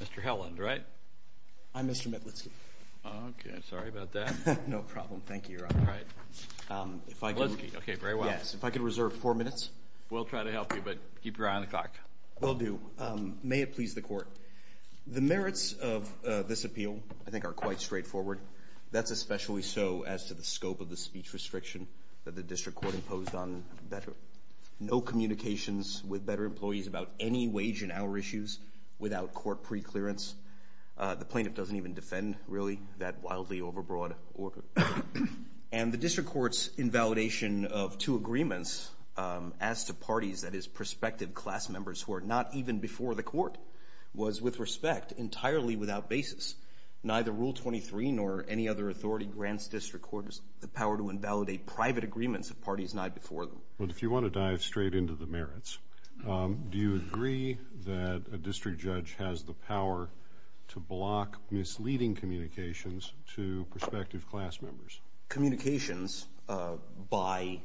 Mr. Helland, right? I'm Mr. Metlitsky. Okay, sorry about that. No problem. Thank you, Your Honor. All right. If I could... Metlitsky, okay, very well. Yes. If I could reserve four minutes. We'll try to help you, but keep your eye on the clock. Will do. May it please the Court. The merits of this appeal, I think, are quite straightforward. That's especially so as to the scope of the speech restriction that the District Court imposed on better... without court preclearance. The plaintiff doesn't even defend, really, that wildly overbroad order. And the District Court's invalidation of two agreements as to parties, that is, prospective class members, who are not even before the Court, was, with respect, entirely without basis. Neither Rule 23 nor any other authority grants District Courts the power to invalidate private agreements of parties not before them. Well, if you want to dive straight into the merits, do you agree that a district judge has the power to block misleading communications to prospective class members? Communications by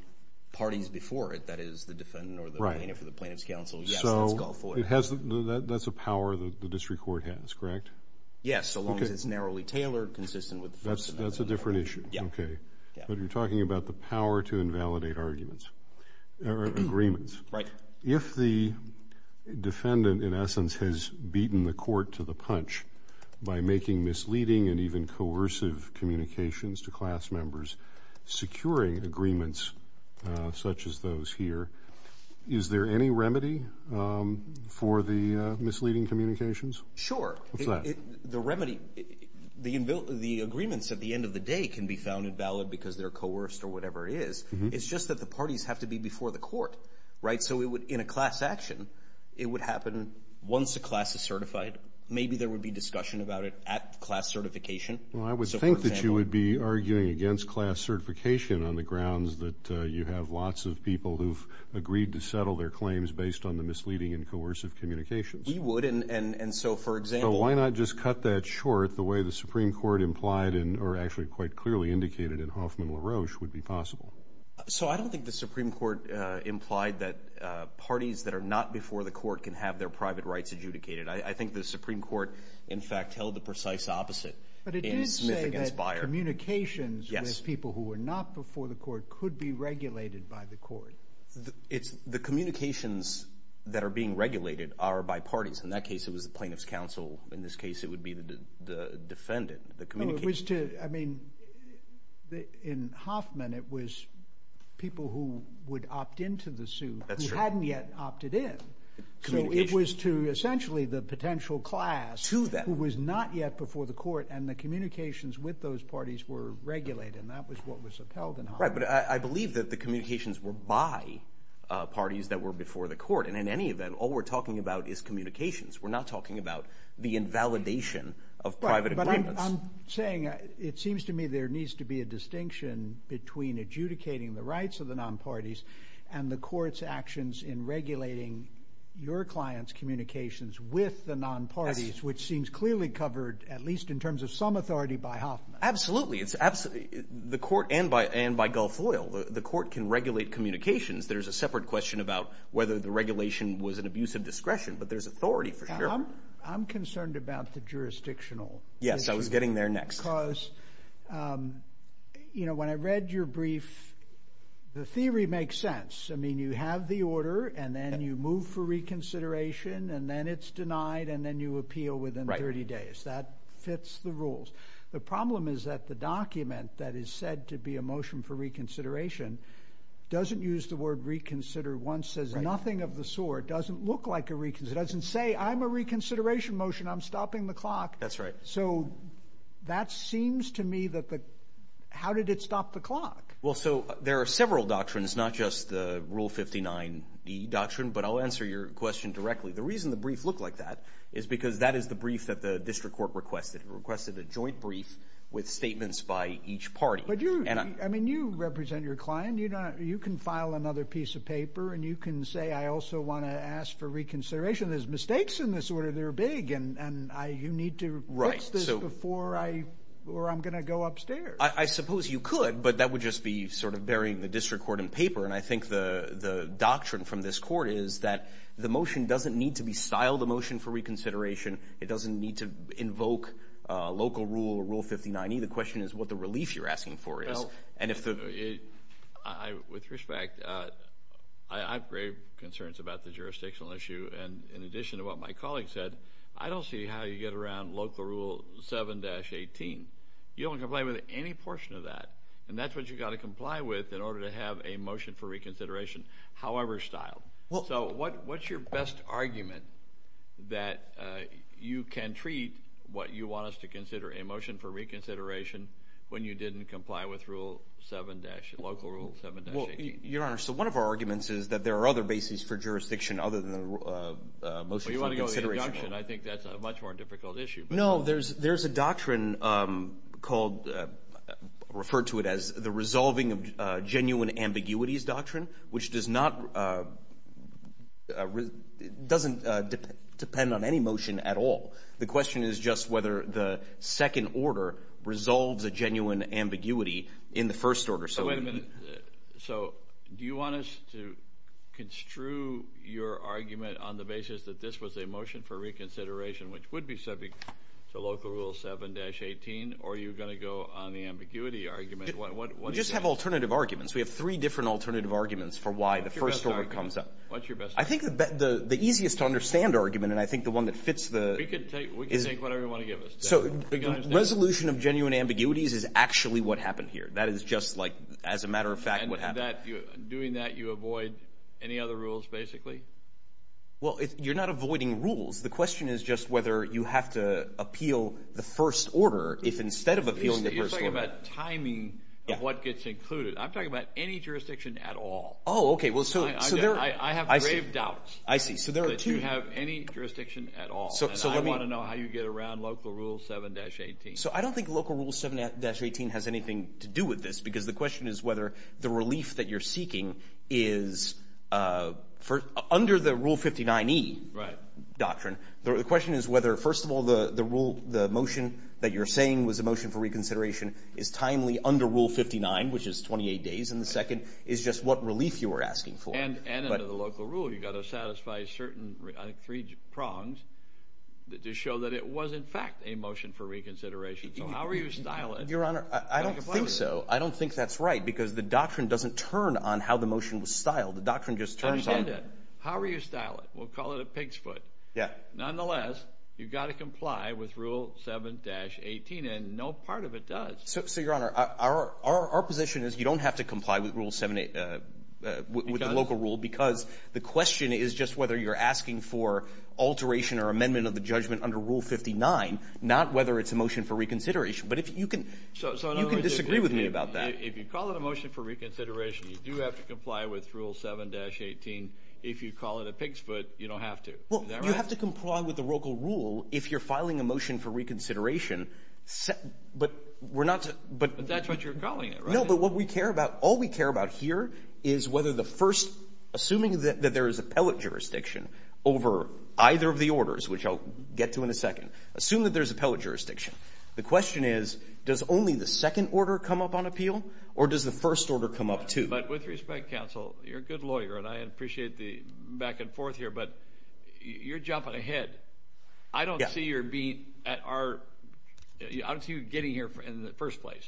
parties before it, that is, the defendant or the plaintiff or the plaintiff's counsel. Yes, let's go for it. So that's a power the District Court has, correct? Yes, so long as it's narrowly tailored, consistent with the first amendment. That's a different issue, okay. But you're talking about the power to invalidate arguments, or agreements. Right. If the defendant, in essence, has beaten the Court to the punch by making misleading and even coercive communications to class members, securing agreements such as those here, is there any remedy for the misleading communications? Sure. What's that? The remedy, the agreements at the end of the day can be found invalid because they're coerced or whatever it is. It's just that the parties have to be before the Court, right? So in a class action, it would happen once a class is certified. Maybe there would be discussion about it at class certification. Well, I would think that you would be arguing against class certification on the grounds that you have lots of people who've agreed to settle their claims based on the misleading and coercive communications. We would, and so, for example— So why not just cut that short the way the Supreme Court implied, or actually quite clearly indicated in Hoffman-LaRoche, would be possible? So I don't think the Supreme Court implied that parties that are not before the Court can have their private rights adjudicated. I think the Supreme Court, in fact, held the precise opposite in Smith v. Byer. But it did say that communications with people who were not before the Court could be regulated by the Court. The communications that are being regulated are by parties. In that case, it was the plaintiff's counsel. In this case, it would be the defendant. No, it was to—I mean, in Hoffman, it was people who would opt into the suit who hadn't yet opted in. So it was to, essentially, the potential class who was not yet before the Court, and the communications with those parties were regulated, and that was what was upheld in Hoffman. Right, but I believe that the communications were by parties that were before the Court. And in any event, all we're talking about is communications. We're not talking about the invalidation of private agreements. Right, but I'm saying it seems to me there needs to be a distinction between adjudicating the rights of the nonparties and the Court's actions in regulating your clients' communications with the nonparties, which seems clearly covered, at least in terms of some authority, by Hoffman. Absolutely. The Court, and by Gulf Oil, the Court can regulate communications. There's a separate question about whether the regulation was an abuse of discretion, but there's authority for sure. I'm concerned about the jurisdictional issue. Yes, I was getting there next. Because, you know, when I read your brief, the theory makes sense. I mean, you have the order, and then you move for reconsideration, and then it's denied, and then you appeal within 30 days. That fits the rules. The problem is that the document that is said to be a motion for reconsideration doesn't use the word reconsider. One says nothing of the sort, doesn't look like a reconsideration, doesn't say I'm a reconsideration motion, I'm stopping the clock. That's right. So that seems to me that the, how did it stop the clock? Well, so there are several doctrines, not just the Rule 59e doctrine, but I'll answer your question directly. The reason the brief looked like that is because that is the brief that the district court requested. It requested a joint brief with statements by each party. I mean, you represent your client. You can file another piece of paper, and you can say I also want to ask for reconsideration. There's mistakes in this order that are big, and you need to fix this before I'm going to go upstairs. I suppose you could, but that would just be sort of burying the district court in paper, and I think the doctrine from this court is that the motion doesn't need to be styled a motion for reconsideration. It doesn't need to invoke local rule or Rule 59e. The question is what the relief you're asking for is. With respect, I have grave concerns about the jurisdictional issue, and in addition to what my colleague said, I don't see how you get around Local Rule 7-18. You don't comply with any portion of that, and that's what you've got to comply with in order to have a motion for reconsideration, however styled. So what's your best argument that you can treat what you want us to consider a motion for reconsideration when you didn't comply with Local Rule 7-18? Well, Your Honor, so one of our arguments is that there are other bases for jurisdiction other than the motion for reconsideration. Well, you want to go with the induction. I think that's a much more difficult issue. No, there's a doctrine called, referred to it as the resolving of genuine ambiguities doctrine, which doesn't depend on any motion at all. The question is just whether the second order resolves a genuine ambiguity in the first order. So do you want us to construe your argument on the basis that this was a motion for reconsideration, which would be subject to Local Rule 7-18, or are you going to go on the ambiguity argument? We just have alternative arguments. We have three different alternative arguments for why the first order comes up. What's your best argument? I think the easiest to understand argument, and I think the one that fits the… We can take whatever you want to give us. So resolution of genuine ambiguities is actually what happened here. That is just like, as a matter of fact, what happened. And doing that, you avoid any other rules, basically? Well, you're not avoiding rules. The question is just whether you have to appeal the first order if instead of appealing the first order… I'm talking about any jurisdiction at all. Oh, okay. I have grave doubts that you have any jurisdiction at all, and I want to know how you get around Local Rule 7-18. So I don't think Local Rule 7-18 has anything to do with this, because the question is whether the relief that you're seeking is under the Rule 59E doctrine. The question is whether, first of all, the motion that you're saying was a motion for reconsideration is timely under Rule 59, which is 28 days, and the second is just what relief you were asking for. And under the Local Rule, you've got to satisfy certain three prongs to show that it was, in fact, a motion for reconsideration. So how are you to style it? Your Honor, I don't think so. I don't think that's right, because the doctrine doesn't turn on how the motion was styled. The doctrine just turns on… I understand that. How are you to style it? We'll call it a pig's foot. Yeah. Nonetheless, you've got to comply with Rule 7-18, and no part of it does. So, Your Honor, our position is you don't have to comply with the Local Rule, because the question is just whether you're asking for alteration or amendment of the judgment under Rule 59, not whether it's a motion for reconsideration. But you can disagree with me about that. If you call it a motion for reconsideration, you do have to comply with Rule 7-18. If you call it a pig's foot, you don't have to. Well, you have to comply with the Local Rule if you're filing a motion for reconsideration. But we're not to… But that's what you're calling it, right? No, but what we care about, all we care about here is whether the first, assuming that there is appellate jurisdiction over either of the orders, which I'll get to in a second, assume that there's appellate jurisdiction. The question is, does only the second order come up on appeal, or does the first order come up too? But with respect, counsel, you're a good lawyer, and I appreciate the back and forth here, but you're jumping ahead. I don't see you getting here in the first place.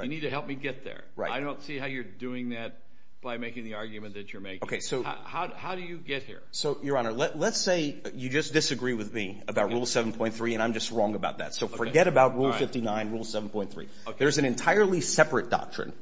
You need to help me get there. I don't see how you're doing that by making the argument that you're making. How do you get here? Your Honor, let's say you just disagree with me about Rule 7.3, and I'm just wrong about that. So forget about Rule 59, Rule 7.3. There's an entirely separate doctrine.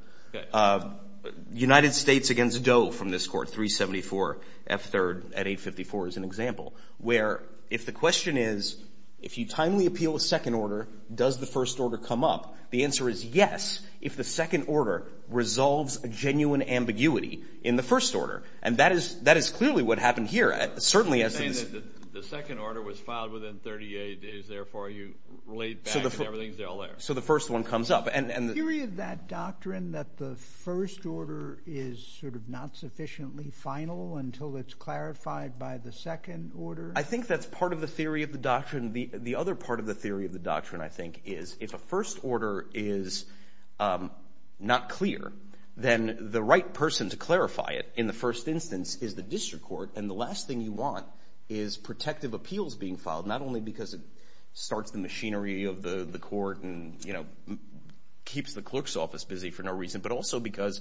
United States against Doe from this Court, 374 F. 3rd at 854 is an example, where if the question is, if you timely appeal a second order, does the first order come up, the answer is yes, if the second order resolves a genuine ambiguity in the first order. And that is clearly what happened here, certainly as to this. The second order was filed within 38 days. Therefore, you relate back and everything is still there. So the first one comes up. And the theory of that doctrine that the first order is sort of not sufficiently final until it's clarified by the second order? I think that's part of the theory of the doctrine. The other part of the theory of the doctrine, I think, is if a first order is not clear, then the right person to clarify it in the first instance is the district court. And the last thing you want is protective appeals being filed, not only because it starts the machinery of the court and, you know, keeps the clerk's office busy for no reason, but also because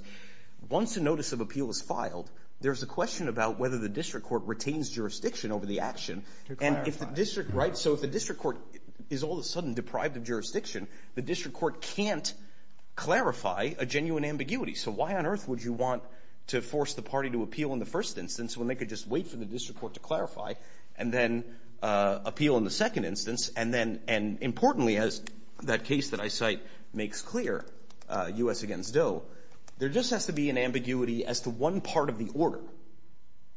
once a notice of appeal is filed, there's a question about whether the district court retains jurisdiction over the action. To clarify. Right? So if the district court is all of a sudden deprived of jurisdiction, the district court can't clarify a genuine ambiguity. So why on earth would you want to force the party to appeal in the first instance when they could just wait for the district court to clarify and then appeal in the second instance? And then importantly, as that case that I cite makes clear, U.S. against Doe, there just has to be an ambiguity as to one part of the order.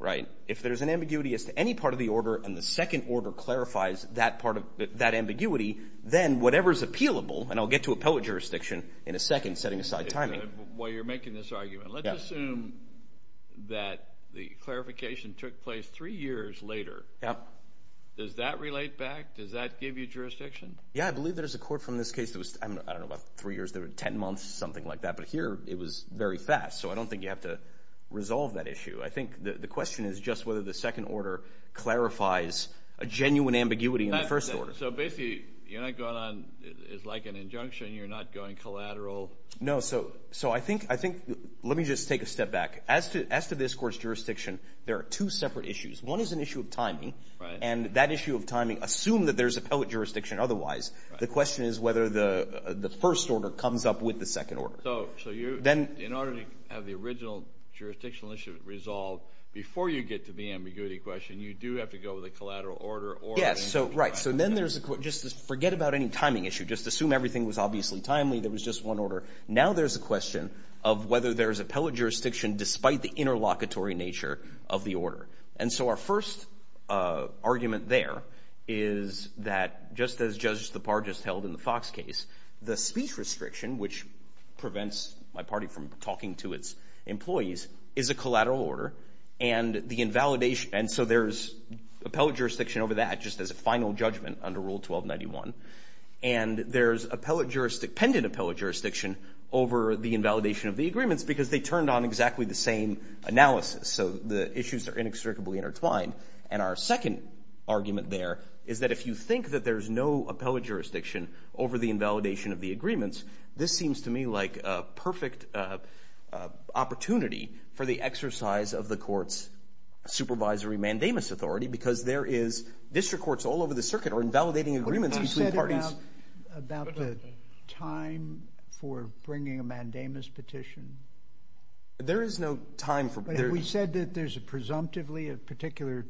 Right? If there's an ambiguity as to any part of the order and the second order clarifies that part of that ambiguity, then whatever is appealable, and I'll get to appellate jurisdiction in a second, setting aside timing. While you're making this argument, let's assume that the clarification took place three years later. Yeah. Does that relate back? Does that give you jurisdiction? Yeah, I believe there's a court from this case that was, I don't know, about three years, 10 months, something like that. But here, it was very fast. So I don't think you have to resolve that issue. I think the question is just whether the second order clarifies a genuine ambiguity in the first order. So basically, you're not going on, it's like an injunction, you're not going collateral. No, so I think, let me just take a step back. As to this court's jurisdiction, there are two separate issues. One is an issue of timing. Right. And that issue of timing, assume that there's appellate jurisdiction otherwise. The question is whether the first order comes up with the second order. So you, in order to have the original jurisdictional issue resolved, before you get to the ambiguity question, you do have to go with a collateral order or an injunction. Yes, so right. So then there's, just forget about any timing issue. Just assume everything was obviously timely, there was just one order. Now there's a question of whether there's appellate jurisdiction despite the interlocutory nature of the order. And so our first argument there is that just as Judge Stepar just held in the Fox case, the speech restriction, which prevents my party from talking to its employees, is a collateral order. And the invalidation, and so there's appellate jurisdiction over that, just as a final judgment under Rule 1291. And there's pendent appellate jurisdiction over the invalidation of the agreements because they turned on exactly the same analysis. So the issues are inextricably intertwined. And our second argument there is that if you think that there's no appellate jurisdiction over the invalidation of the agreements, this seems to me like a perfect opportunity for the exercise of the court's supervisory mandamus authority because there is district courts all over the circuit are invalidating agreements between parties. What have you said about the time for bringing a mandamus petition? There is no time for... We said that there's presumptively a particular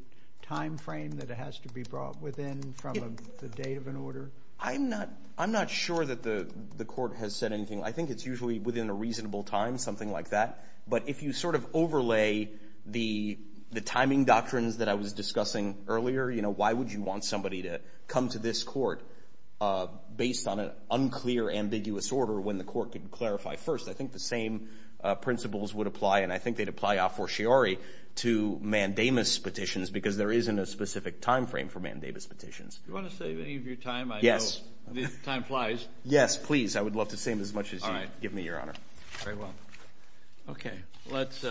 timeframe that it has to be brought within from the date of an order. I'm not sure that the court has said anything. I think it's usually within a reasonable time, something like that. But if you sort of overlay the timing doctrines that I was discussing earlier, you know, why would you want somebody to come to this court based on an unclear, ambiguous order when the court could clarify first? I think the same principles would apply, and I think they'd apply a fortiori to mandamus petitions because there isn't a specific timeframe for mandamus petitions. Do you want to save any of your time? Yes. I know time flies. Yes, please. I would love to save as much as you give me, Your Honor. All right. Very well. Okay. Let's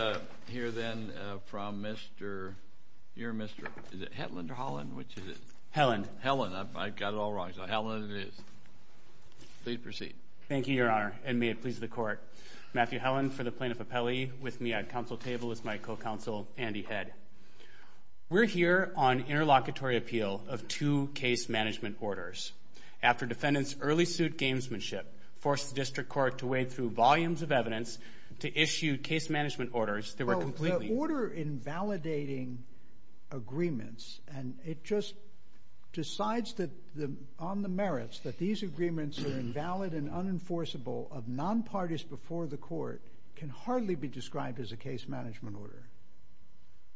hear then from your Mr. Is it Hetland or Holland? Which is it? Helen. Helen. I've got it all wrong. So Helen it is. Please proceed. Thank you, Your Honor. And may it please the court. Matthew Helen for the plaintiff appellee. With me at counsel table is my co-counsel, Andy Head. We're here on interlocutory appeal of two case management orders. After defendants' early suit gamesmanship forced the district court to wade through volumes of evidence to issue case management orders that were completely Well, the order invalidating agreements, and it just decides that on the merits that these agreements are invalid and unenforceable of non-parties before the court can hardly be described as a case management order.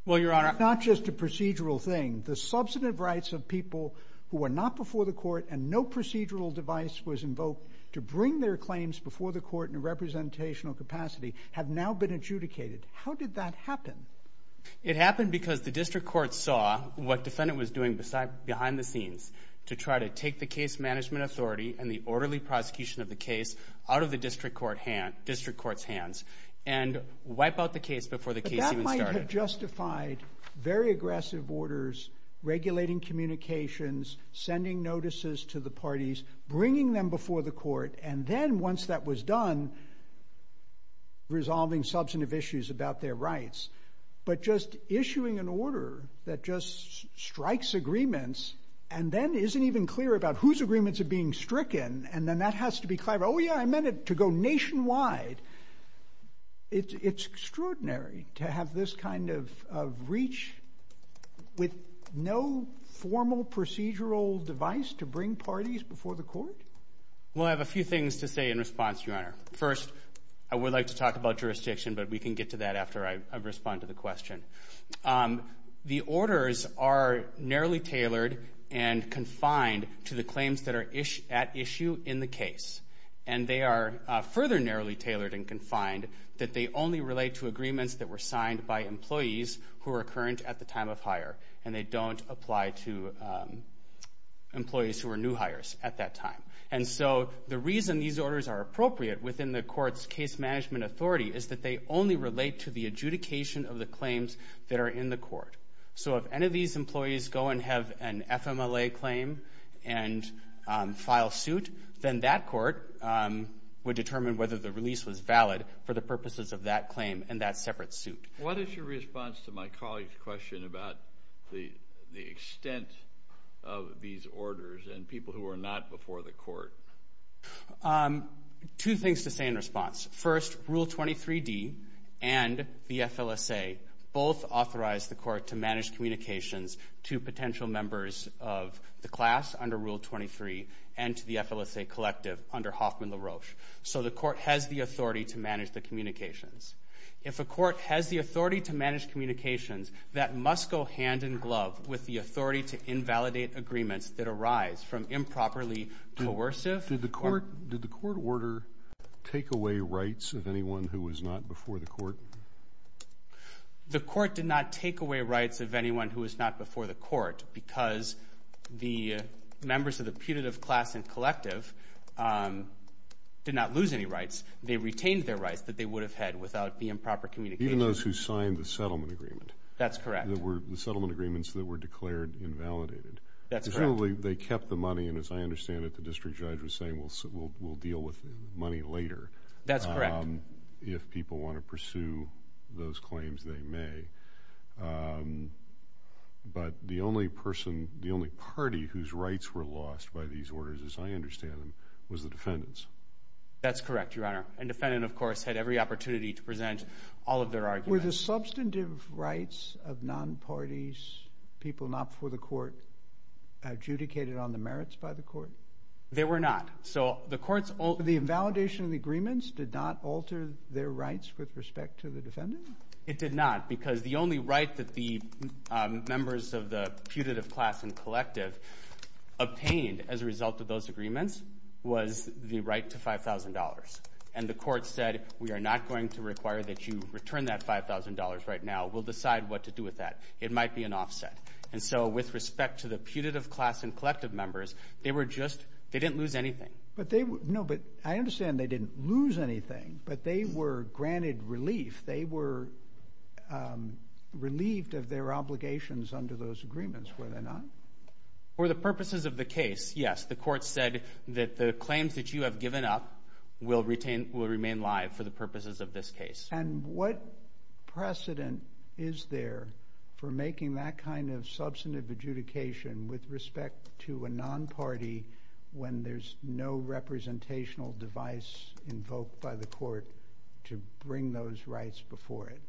Well, Your Honor. It's not just a procedural thing. The substantive rights of people who are not before the court and no procedural device was invoked to bring their claims before the court in a representational capacity have now been adjudicated. How did that happen? It happened because the district court saw what defendant was doing behind the scenes to try to take the case management authority and the orderly prosecution of the case out of the district court's hands and wipe out the case before the case even started. But that might have justified very aggressive orders, regulating communications, sending notices to the parties, bringing them before the court, and then once that was done, resolving substantive issues about their rights. But just issuing an order that just strikes agreements and then isn't even clear about whose agreements are being stricken, and then that has to be clarified. Oh, yeah, I meant it to go nationwide. It's extraordinary to have this kind of reach with no formal procedural device to bring parties before the court. Well, I have a few things to say in response, Your Honor. First, I would like to talk about jurisdiction, but we can get to that after I respond to the question. The orders are narrowly tailored and confined to the claims that are at issue in the case, and they are further narrowly tailored and confined that they only relate to agreements that were signed by employees who are current at the time of hire, and they don't apply to employees who are new hires at that time. And so the reason these orders are appropriate within the court's case management authority is that they only relate to the adjudication of the claims that are in the court. So if any of these employees go and have an FMLA claim and file suit, then that court would determine whether the release was valid for the purposes of that claim and that separate suit. What is your response to my colleague's question about the extent of these orders and people who are not before the court? Two things to say in response. First, Rule 23d and the FLSA both authorize the court to manage communications to potential members of the class under Rule 23 and to the FLSA collective under Hoffman-LaRoche. So the court has the authority to manage the communications. If a court has the authority to manage communications, that must go hand-in-glove with the authority to invalidate agreements that arise from improperly coercive. Did the court order take away rights of anyone who was not before the court? The court did not take away rights of anyone who was not before the court because the members of the putative class and collective did not lose any rights. They retained their rights that they would have had without the improper communication. Even those who signed the settlement agreement? That's correct. The settlement agreements that were declared invalidated? That's correct. Finally, they kept the money, and as I understand it, the district judge was saying we'll deal with money later. That's correct. If people want to pursue those claims, they may. But the only party whose rights were lost by these orders, as I understand them, was the defendants. That's correct, Your Honor. And the defendant, of course, had every opportunity to present all of their arguments. Were the substantive rights of non-parties, people not before the court, adjudicated on the merits by the court? They were not. The invalidation of the agreements did not alter their rights with respect to the defendant? It did not because the only right that the members of the putative class and collective obtained as a result of those agreements was the right to $5,000. And the court said we are not going to require that you return that $5,000 right now. We'll decide what to do with that. It might be an offset. And so with respect to the putative class and collective members, they were just they didn't lose anything. No, but I understand they didn't lose anything, but they were granted relief. They were relieved of their obligations under those agreements, were they not? For the purposes of the case, yes. The court said that the claims that you have given up will remain live for the purposes of this case. And what precedent is there for making that kind of substantive adjudication with respect to a non-party when there's no representational device invoked by the court to bring those rights before it?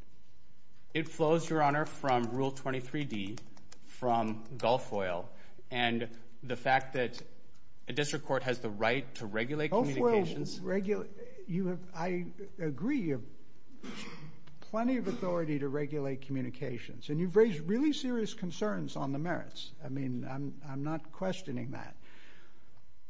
It flows, Your Honor, from Rule 23D from Gulf Oil. And the fact that a district court has the right to regulate communications. I agree you have plenty of authority to regulate communications. And you've raised really serious concerns on the merits. I mean, I'm not questioning that.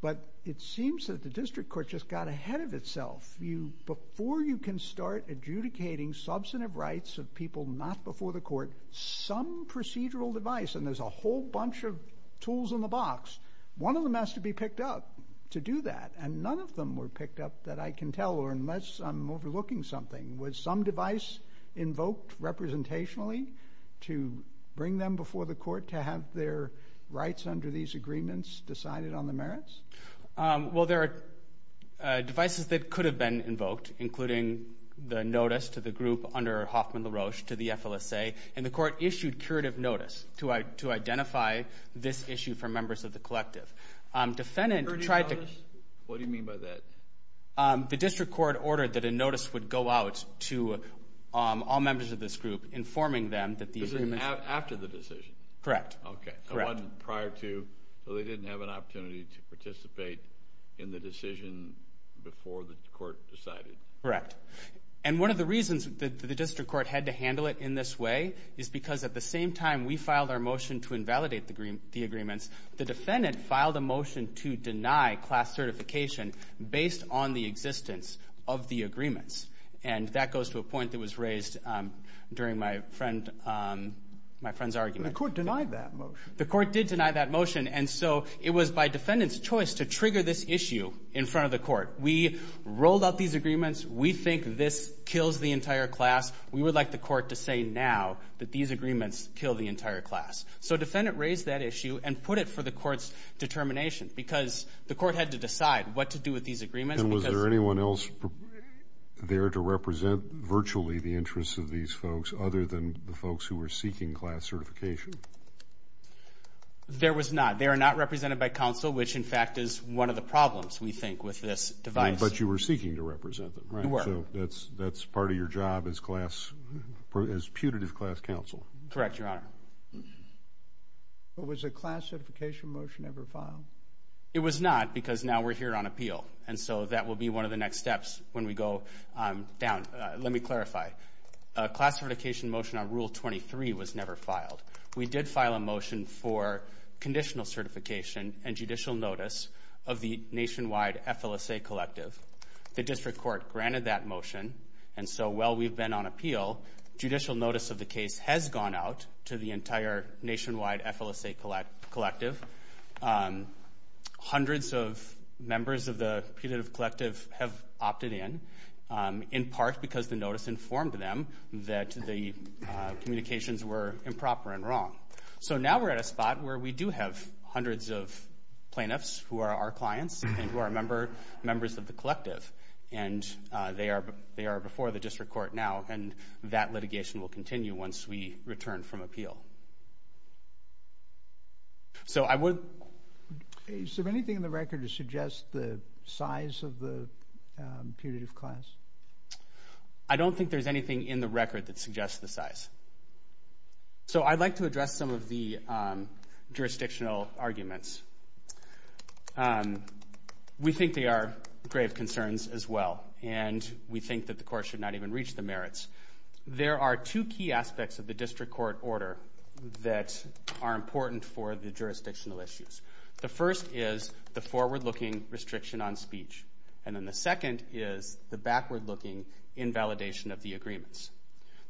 But it seems that the district court just got ahead of itself. Before you can start adjudicating substantive rights of people not before the court, some procedural device, and there's a whole bunch of tools in the box, one of them has to be picked up to do that. And none of them were picked up that I can tell, unless I'm overlooking something. Was some device invoked representationally to bring them before the court to have their rights under these agreements decided on the merits? Well, there are devices that could have been invoked, including the notice to the group under Hoffman-LaRoche to the FLSA. And the court issued curative notice to identify this issue for members of the collective. What do you mean by that? The district court ordered that a notice would go out to all members of this group informing them that these agreements. After the decision? Correct. Okay, so it wasn't prior to. So they didn't have an opportunity to participate in the decision before the court decided. Correct. And one of the reasons that the district court had to handle it in this way is because at the same time we filed our motion to invalidate the agreements, the defendant filed a motion to deny class certification based on the existence of the agreements. And that goes to a point that was raised during my friend's argument. The court denied that motion. The court did deny that motion. And so it was by defendant's choice to trigger this issue in front of the court. We rolled out these agreements. We think this kills the entire class. We would like the court to say now that these agreements kill the entire class. So defendant raised that issue and put it for the court's determination because the court had to decide what to do with these agreements. And was there anyone else there to represent virtually the interests of these folks other than the folks who were seeking class certification? There was not. They are not represented by counsel, which, in fact, is one of the problems, we think, with this device. But you were seeking to represent them, right? We were. So that's part of your job as putative class counsel. Correct, Your Honor. But was a class certification motion ever filed? It was not because now we're here on appeal. And so that will be one of the next steps when we go down. Let me clarify. A class certification motion on Rule 23 was never filed. We did file a motion for conditional certification and judicial notice of the nationwide FLSA collective. The district court granted that motion. And so while we've been on appeal, judicial notice of the case has gone out to the entire nationwide FLSA collective. Hundreds of members of the putative collective have opted in, in part because the notice informed them that the communications were improper and wrong. So now we're at a spot where we do have hundreds of plaintiffs who are our clients and who are members of the collective. And they are before the district court now, and that litigation will continue once we return from appeal. So I would... Is there anything in the record to suggest the size of the putative class? I don't think there's anything in the record that suggests the size. So I'd like to address some of the jurisdictional arguments. We think they are grave concerns as well, and we think that the court should not even reach the merits. There are two key aspects of the district court order that are important for the jurisdictional issues. The first is the forward-looking restriction on speech, and then the second is the backward-looking invalidation of the agreements.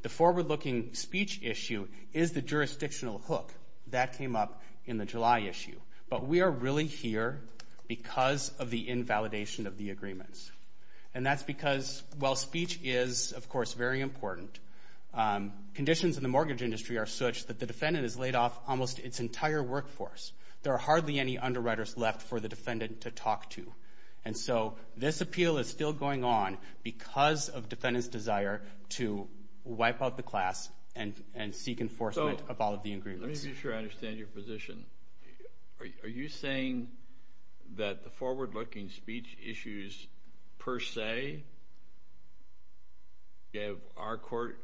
The forward-looking speech issue is the jurisdictional hook. That came up in the July issue. But we are really here because of the invalidation of the agreements. And that's because while speech is, of course, very important, conditions in the mortgage industry are such that the defendant has laid off almost its entire workforce. There are hardly any underwriters left for the defendant to talk to. And so this appeal is still going on because of defendant's desire to wipe out the class and seek enforcement of all of the agreements. Let me be sure I understand your position. Are you saying that the forward-looking speech issues per se give our court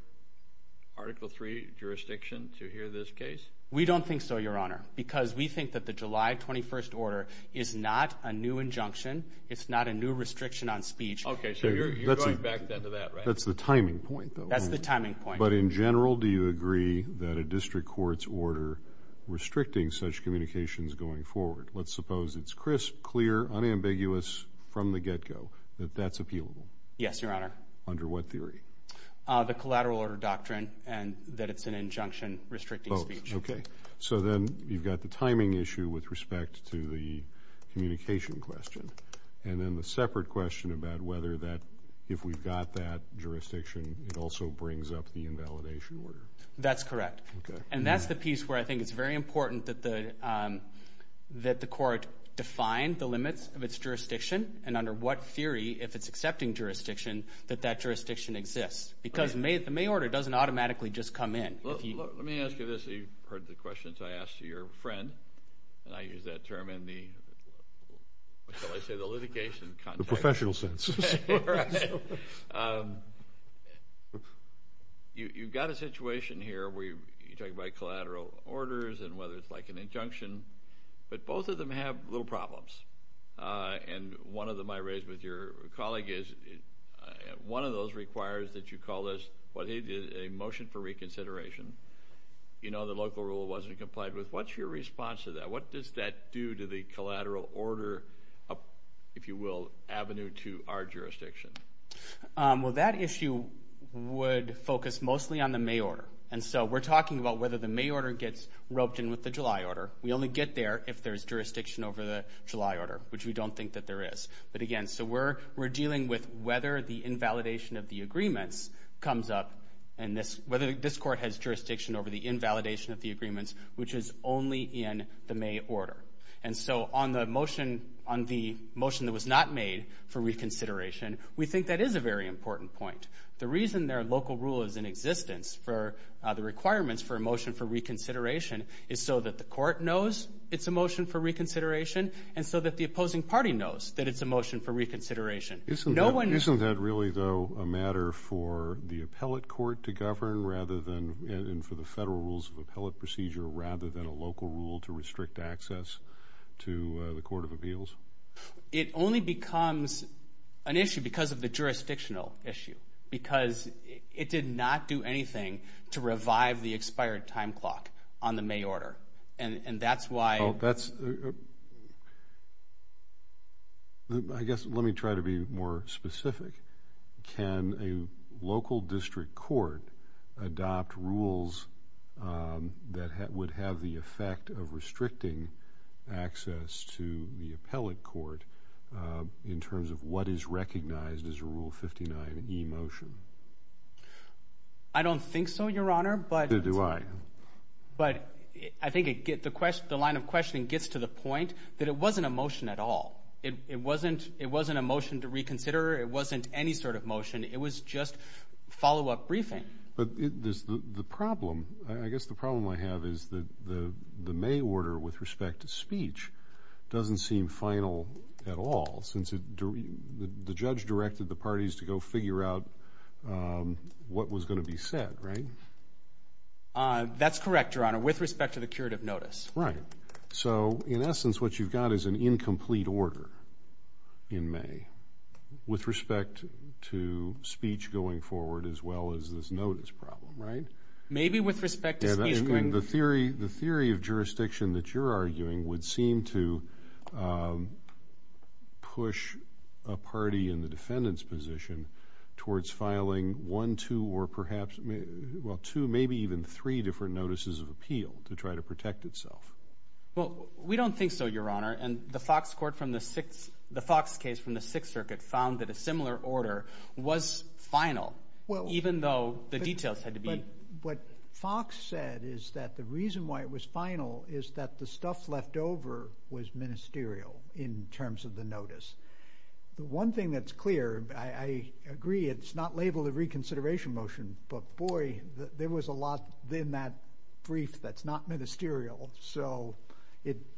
Article III jurisdiction to hear this case? We don't think so, Your Honor, because we think that the July 21st order is not a new injunction. It's not a new restriction on speech. Okay, so you're going back to that, right? That's the timing point, though. That's the timing point. But in general, do you agree that a district court's order restricting such communications going forward, let's suppose it's crisp, clear, unambiguous from the get-go, that that's appealable? Yes, Your Honor. Under what theory? The collateral order doctrine and that it's an injunction restricting speech. Okay. So then you've got the timing issue with respect to the communication question. And then the separate question about whether that if we've got that jurisdiction, it also brings up the invalidation order. That's correct. Okay. And that's the piece where I think it's very important that the court define the limits of its jurisdiction and under what theory, if it's accepting jurisdiction, that that jurisdiction exists. Because the May order doesn't automatically just come in. Let me ask you this. You've heard the questions I asked your friend, and I use that term in the litigation context. The professional sense. Right. You've got a situation here where you're talking about collateral orders and whether it's like an injunction, but both of them have little problems. And one of them I raised with your colleague is one of those requires that you call this what he did, a motion for reconsideration. You know the local rule wasn't complied with. What's your response to that? What does that do to the collateral order, if you will, avenue to our jurisdiction? Well, that issue would focus mostly on the May order. And so we're talking about whether the May order gets roped in with the July order. We only get there if there's jurisdiction over the July order, which we don't think that there is. But, again, so we're dealing with whether the invalidation of the agreements comes up and whether this court has jurisdiction over the invalidation of the agreements, which is only in the May order. And so on the motion that was not made for reconsideration, we think that is a very important point. The reason their local rule is in existence for the requirements for a motion for reconsideration is so that the court knows it's a motion for reconsideration and so that the opposing party knows that it's a motion for reconsideration. Isn't that really, though, a matter for the appellate court to govern rather than and for the federal rules of appellate procedure rather than a local rule to restrict access to the Court of Appeals? It only becomes an issue because of the jurisdictional issue, because it did not do anything to revive the expired time clock on the May order, and that's why. Well, I guess let me try to be more specific. Can a local district court adopt rules that would have the effect of restricting access to the appellate court in terms of what is recognized as a Rule 59e motion? I don't think so, Your Honor. Neither do I. But I think the line of questioning gets to the point that it wasn't a motion at all. It wasn't a motion to reconsider. It wasn't any sort of motion. It was just follow-up briefing. But the problem, I guess the problem I have is that the May order with respect to speech doesn't seem final at all since the judge directed the parties to go figure out what was going to be said, right? That's correct, Your Honor, with respect to the curative notice. Right. So, in essence, what you've got is an incomplete order in May with respect to speech going forward as well as this notice problem, right? Maybe with respect to speech going forward. The theory of jurisdiction that you're arguing would seem to push a party in the defendant's position towards filing one, two, or perhaps, well, two, maybe even three different notices of appeal to try to protect itself. Well, we don't think so, Your Honor. And the Fox case from the Sixth Circuit found that a similar order was final even though the details had to be. But what Fox said is that the reason why it was final is that the stuff left over was ministerial in terms of the notice. The one thing that's clear, I agree, it's not labeled a reconsideration motion, but, boy, there was a lot in that brief that's not ministerial. So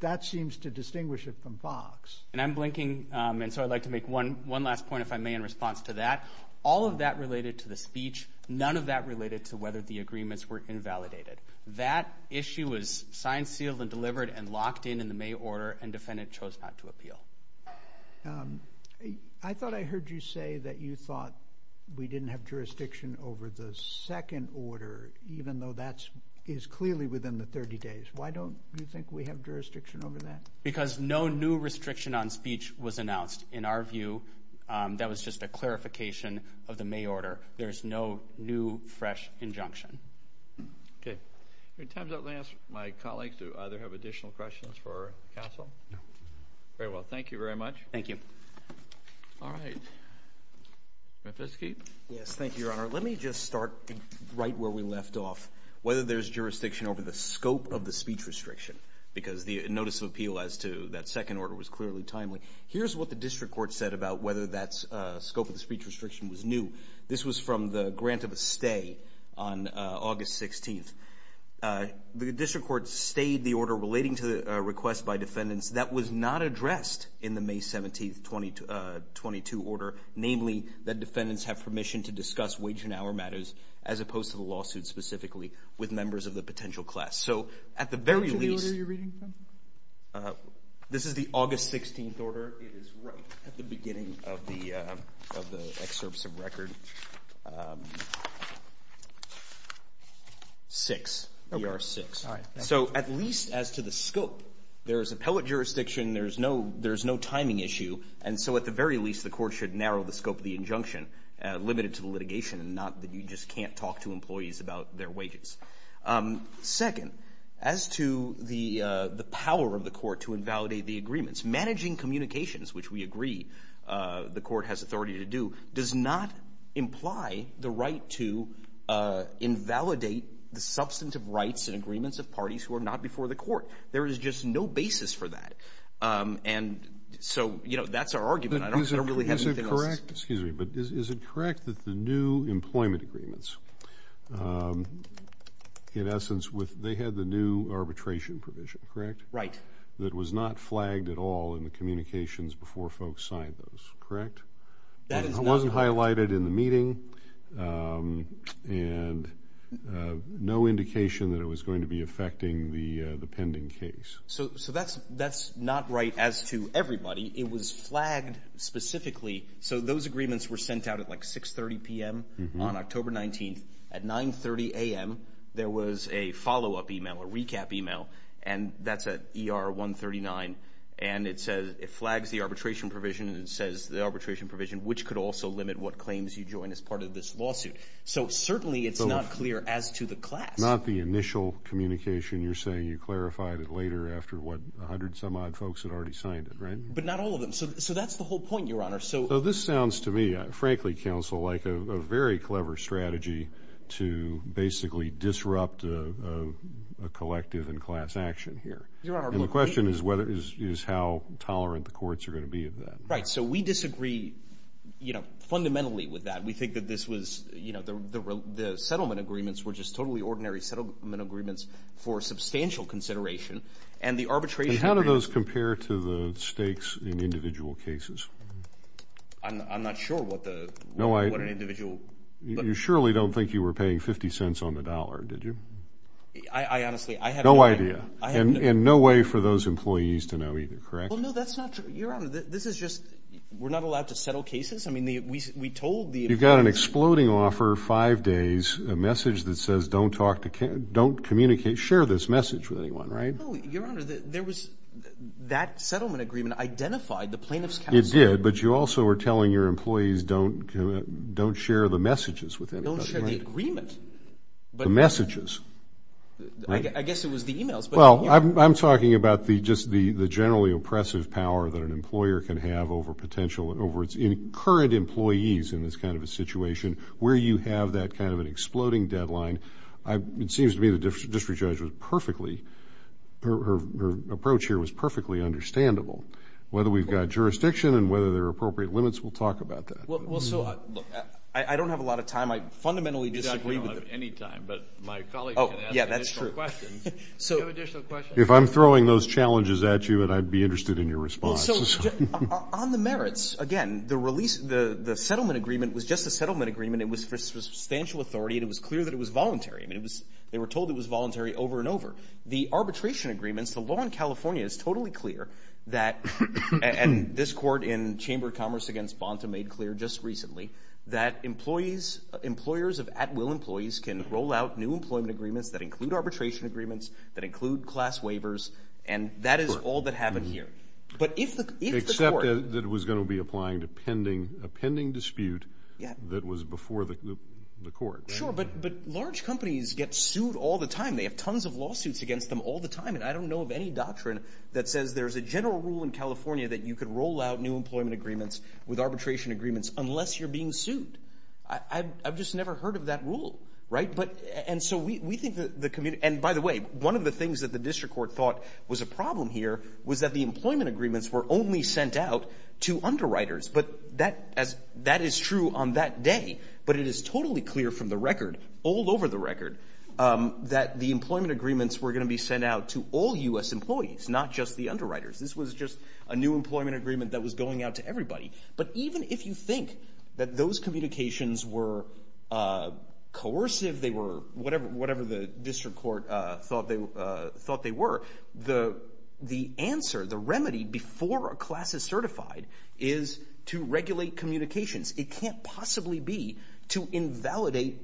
that seems to distinguish it from Fox. And I'm blinking, and so I'd like to make one last point, if I may, in response to that. All of that related to the speech. None of that related to whether the agreements were invalidated. That issue was signed, sealed, and delivered and locked in in the May order, and defendant chose not to appeal. I thought I heard you say that you thought we didn't have jurisdiction over the second order, even though that is clearly within the 30 days. Why don't you think we have jurisdiction over that? Because no new restriction on speech was announced. In our view, that was just a clarification of the May order. There is no new, fresh injunction. Okay. In terms of my colleagues, do either have additional questions for counsel? No. Very well. Thank you very much. Thank you. All right. Mr. Fiske? Yes, thank you, Your Honor. Let me just start right where we left off, whether there's jurisdiction over the scope of the speech restriction, because the notice of appeal as to that second order was clearly timely. Here's what the district court said about whether that scope of the speech restriction was new. This was from the grant of a stay on August 16th. The district court stayed the order relating to a request by defendants that was not addressed in the May 17th, 2022 order, namely that defendants have permission to discuss wage and hour matters, as opposed to the lawsuit specifically with members of the potential class. So at the very least. Which of the order are you reading from? This is the August 16th order. It is right at the beginning of the excerpts of record. 6, ER 6. So at least as to the scope, there is appellate jurisdiction, there is no timing issue, and so at the very least the court should narrow the scope of the injunction, limit it to the litigation and not that you just can't talk to employees about their wages. Second, as to the power of the court to invalidate the agreements, its managing communications, which we agree the court has authority to do, does not imply the right to invalidate the substantive rights and agreements of parties who are not before the court. There is just no basis for that. And so, you know, that's our argument. I don't really have anything else. Excuse me, but is it correct that the new employment agreements, in essence, they had the new arbitration provision, correct? Right. That was not flagged at all in the communications before folks signed those, correct? That is not. It wasn't highlighted in the meeting, and no indication that it was going to be affecting the pending case. So that's not right as to everybody. It was flagged specifically. So those agreements were sent out at like 6.30 p.m. on October 19th. At 9.30 a.m. there was a follow-up email, a recap email, and that's at ER 139, and it says it flags the arbitration provision and it says the arbitration provision, which could also limit what claims you join as part of this lawsuit. So certainly it's not clear as to the class. Not the initial communication. You're saying you clarified it later after, what, 100-some-odd folks had already signed it, right? But not all of them. So that's the whole point, Your Honor. So this sounds to me, frankly, Counsel, like a very clever strategy to basically disrupt a collective and class action here. Your Honor. And the question is how tolerant the courts are going to be of that. Right. So we disagree, you know, fundamentally with that. We think that this was, you know, the settlement agreements were just totally ordinary settlement agreements for substantial consideration, and the arbitration agreements. How does this compare to the stakes in individual cases? I'm not sure what an individual. You surely don't think you were paying 50 cents on the dollar, did you? I honestly, I have no idea. No idea. And no way for those employees to know either, correct? Well, no, that's not true. Your Honor, this is just, we're not allowed to settle cases? I mean, we told the employees. You've got an exploding offer, five days, a message that says don't communicate, share this message with anyone, right? No, Your Honor, there was, that settlement agreement identified the plaintiff's counsel. It did, but you also were telling your employees don't share the messages with anybody. Don't share the agreement. The messages. I guess it was the emails. Well, I'm talking about just the generally oppressive power that an employer can have over potential, over its current employees in this kind of a situation where you have that kind of an exploding deadline. It seems to me the district judge was perfectly, her approach here was perfectly understandable. Whether we've got jurisdiction and whether there are appropriate limits, we'll talk about that. Well, so, I don't have a lot of time. I fundamentally disagree. You don't have any time, but my colleague can ask additional questions. Oh, yeah, that's true. Do you have additional questions? If I'm throwing those challenges at you, then I'd be interested in your response. On the merits, again, the release, the settlement agreement was just a settlement agreement. It was for substantial authority, and it was clear that it was voluntary. They were told it was voluntary over and over. The arbitration agreements, the law in California is totally clear that, and this court in Chamber of Commerce against Bonta made clear just recently, that employers of at-will employees can roll out new employment agreements that include arbitration agreements, that include class waivers, and that is all that happened here. Except that it was going to be applying to a pending dispute that was before the court. Sure, but large companies get sued all the time. They have tons of lawsuits against them all the time, and I don't know of any doctrine that says there's a general rule in California that you could roll out new employment agreements with arbitration agreements unless you're being sued. I've just never heard of that rule, right? And so we think that the committee, and by the way, one of the things that the district court thought was a problem here was that the employment agreements were only sent out to underwriters. But that is true on that day, but it is totally clear from the record, all over the record, that the employment agreements were going to be sent out to all U.S. employees, not just the underwriters. This was just a new employment agreement that was going out to everybody. But even if you think that those communications were coercive, whatever the district court thought they were, the answer, the remedy before a class is certified is to regulate communications. It can't possibly be to invalidate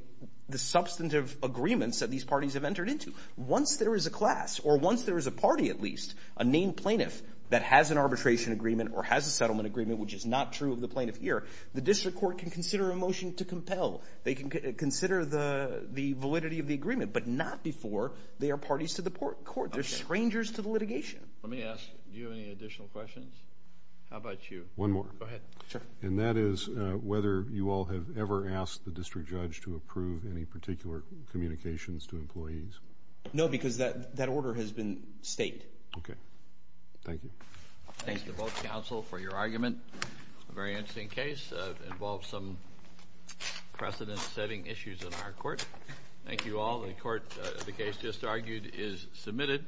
the substantive agreements that these parties have entered into. Once there is a class, or once there is a party at least, a named plaintiff that has an arbitration agreement or has a settlement agreement, which is not true of the plaintiff here, the district court can consider a motion to compel. They can consider the validity of the agreement, but not before they are parties to the court. They're strangers to the litigation. Let me ask, do you have any additional questions? How about you? One more. Go ahead. And that is whether you all have ever asked the district judge to approve any particular communications to employees. No, because that order has been staked. Okay. Thank you. Thank you both, counsel, for your argument. A very interesting case. It involves some precedent-setting issues in our court. Thank you all. The case just argued is submitted.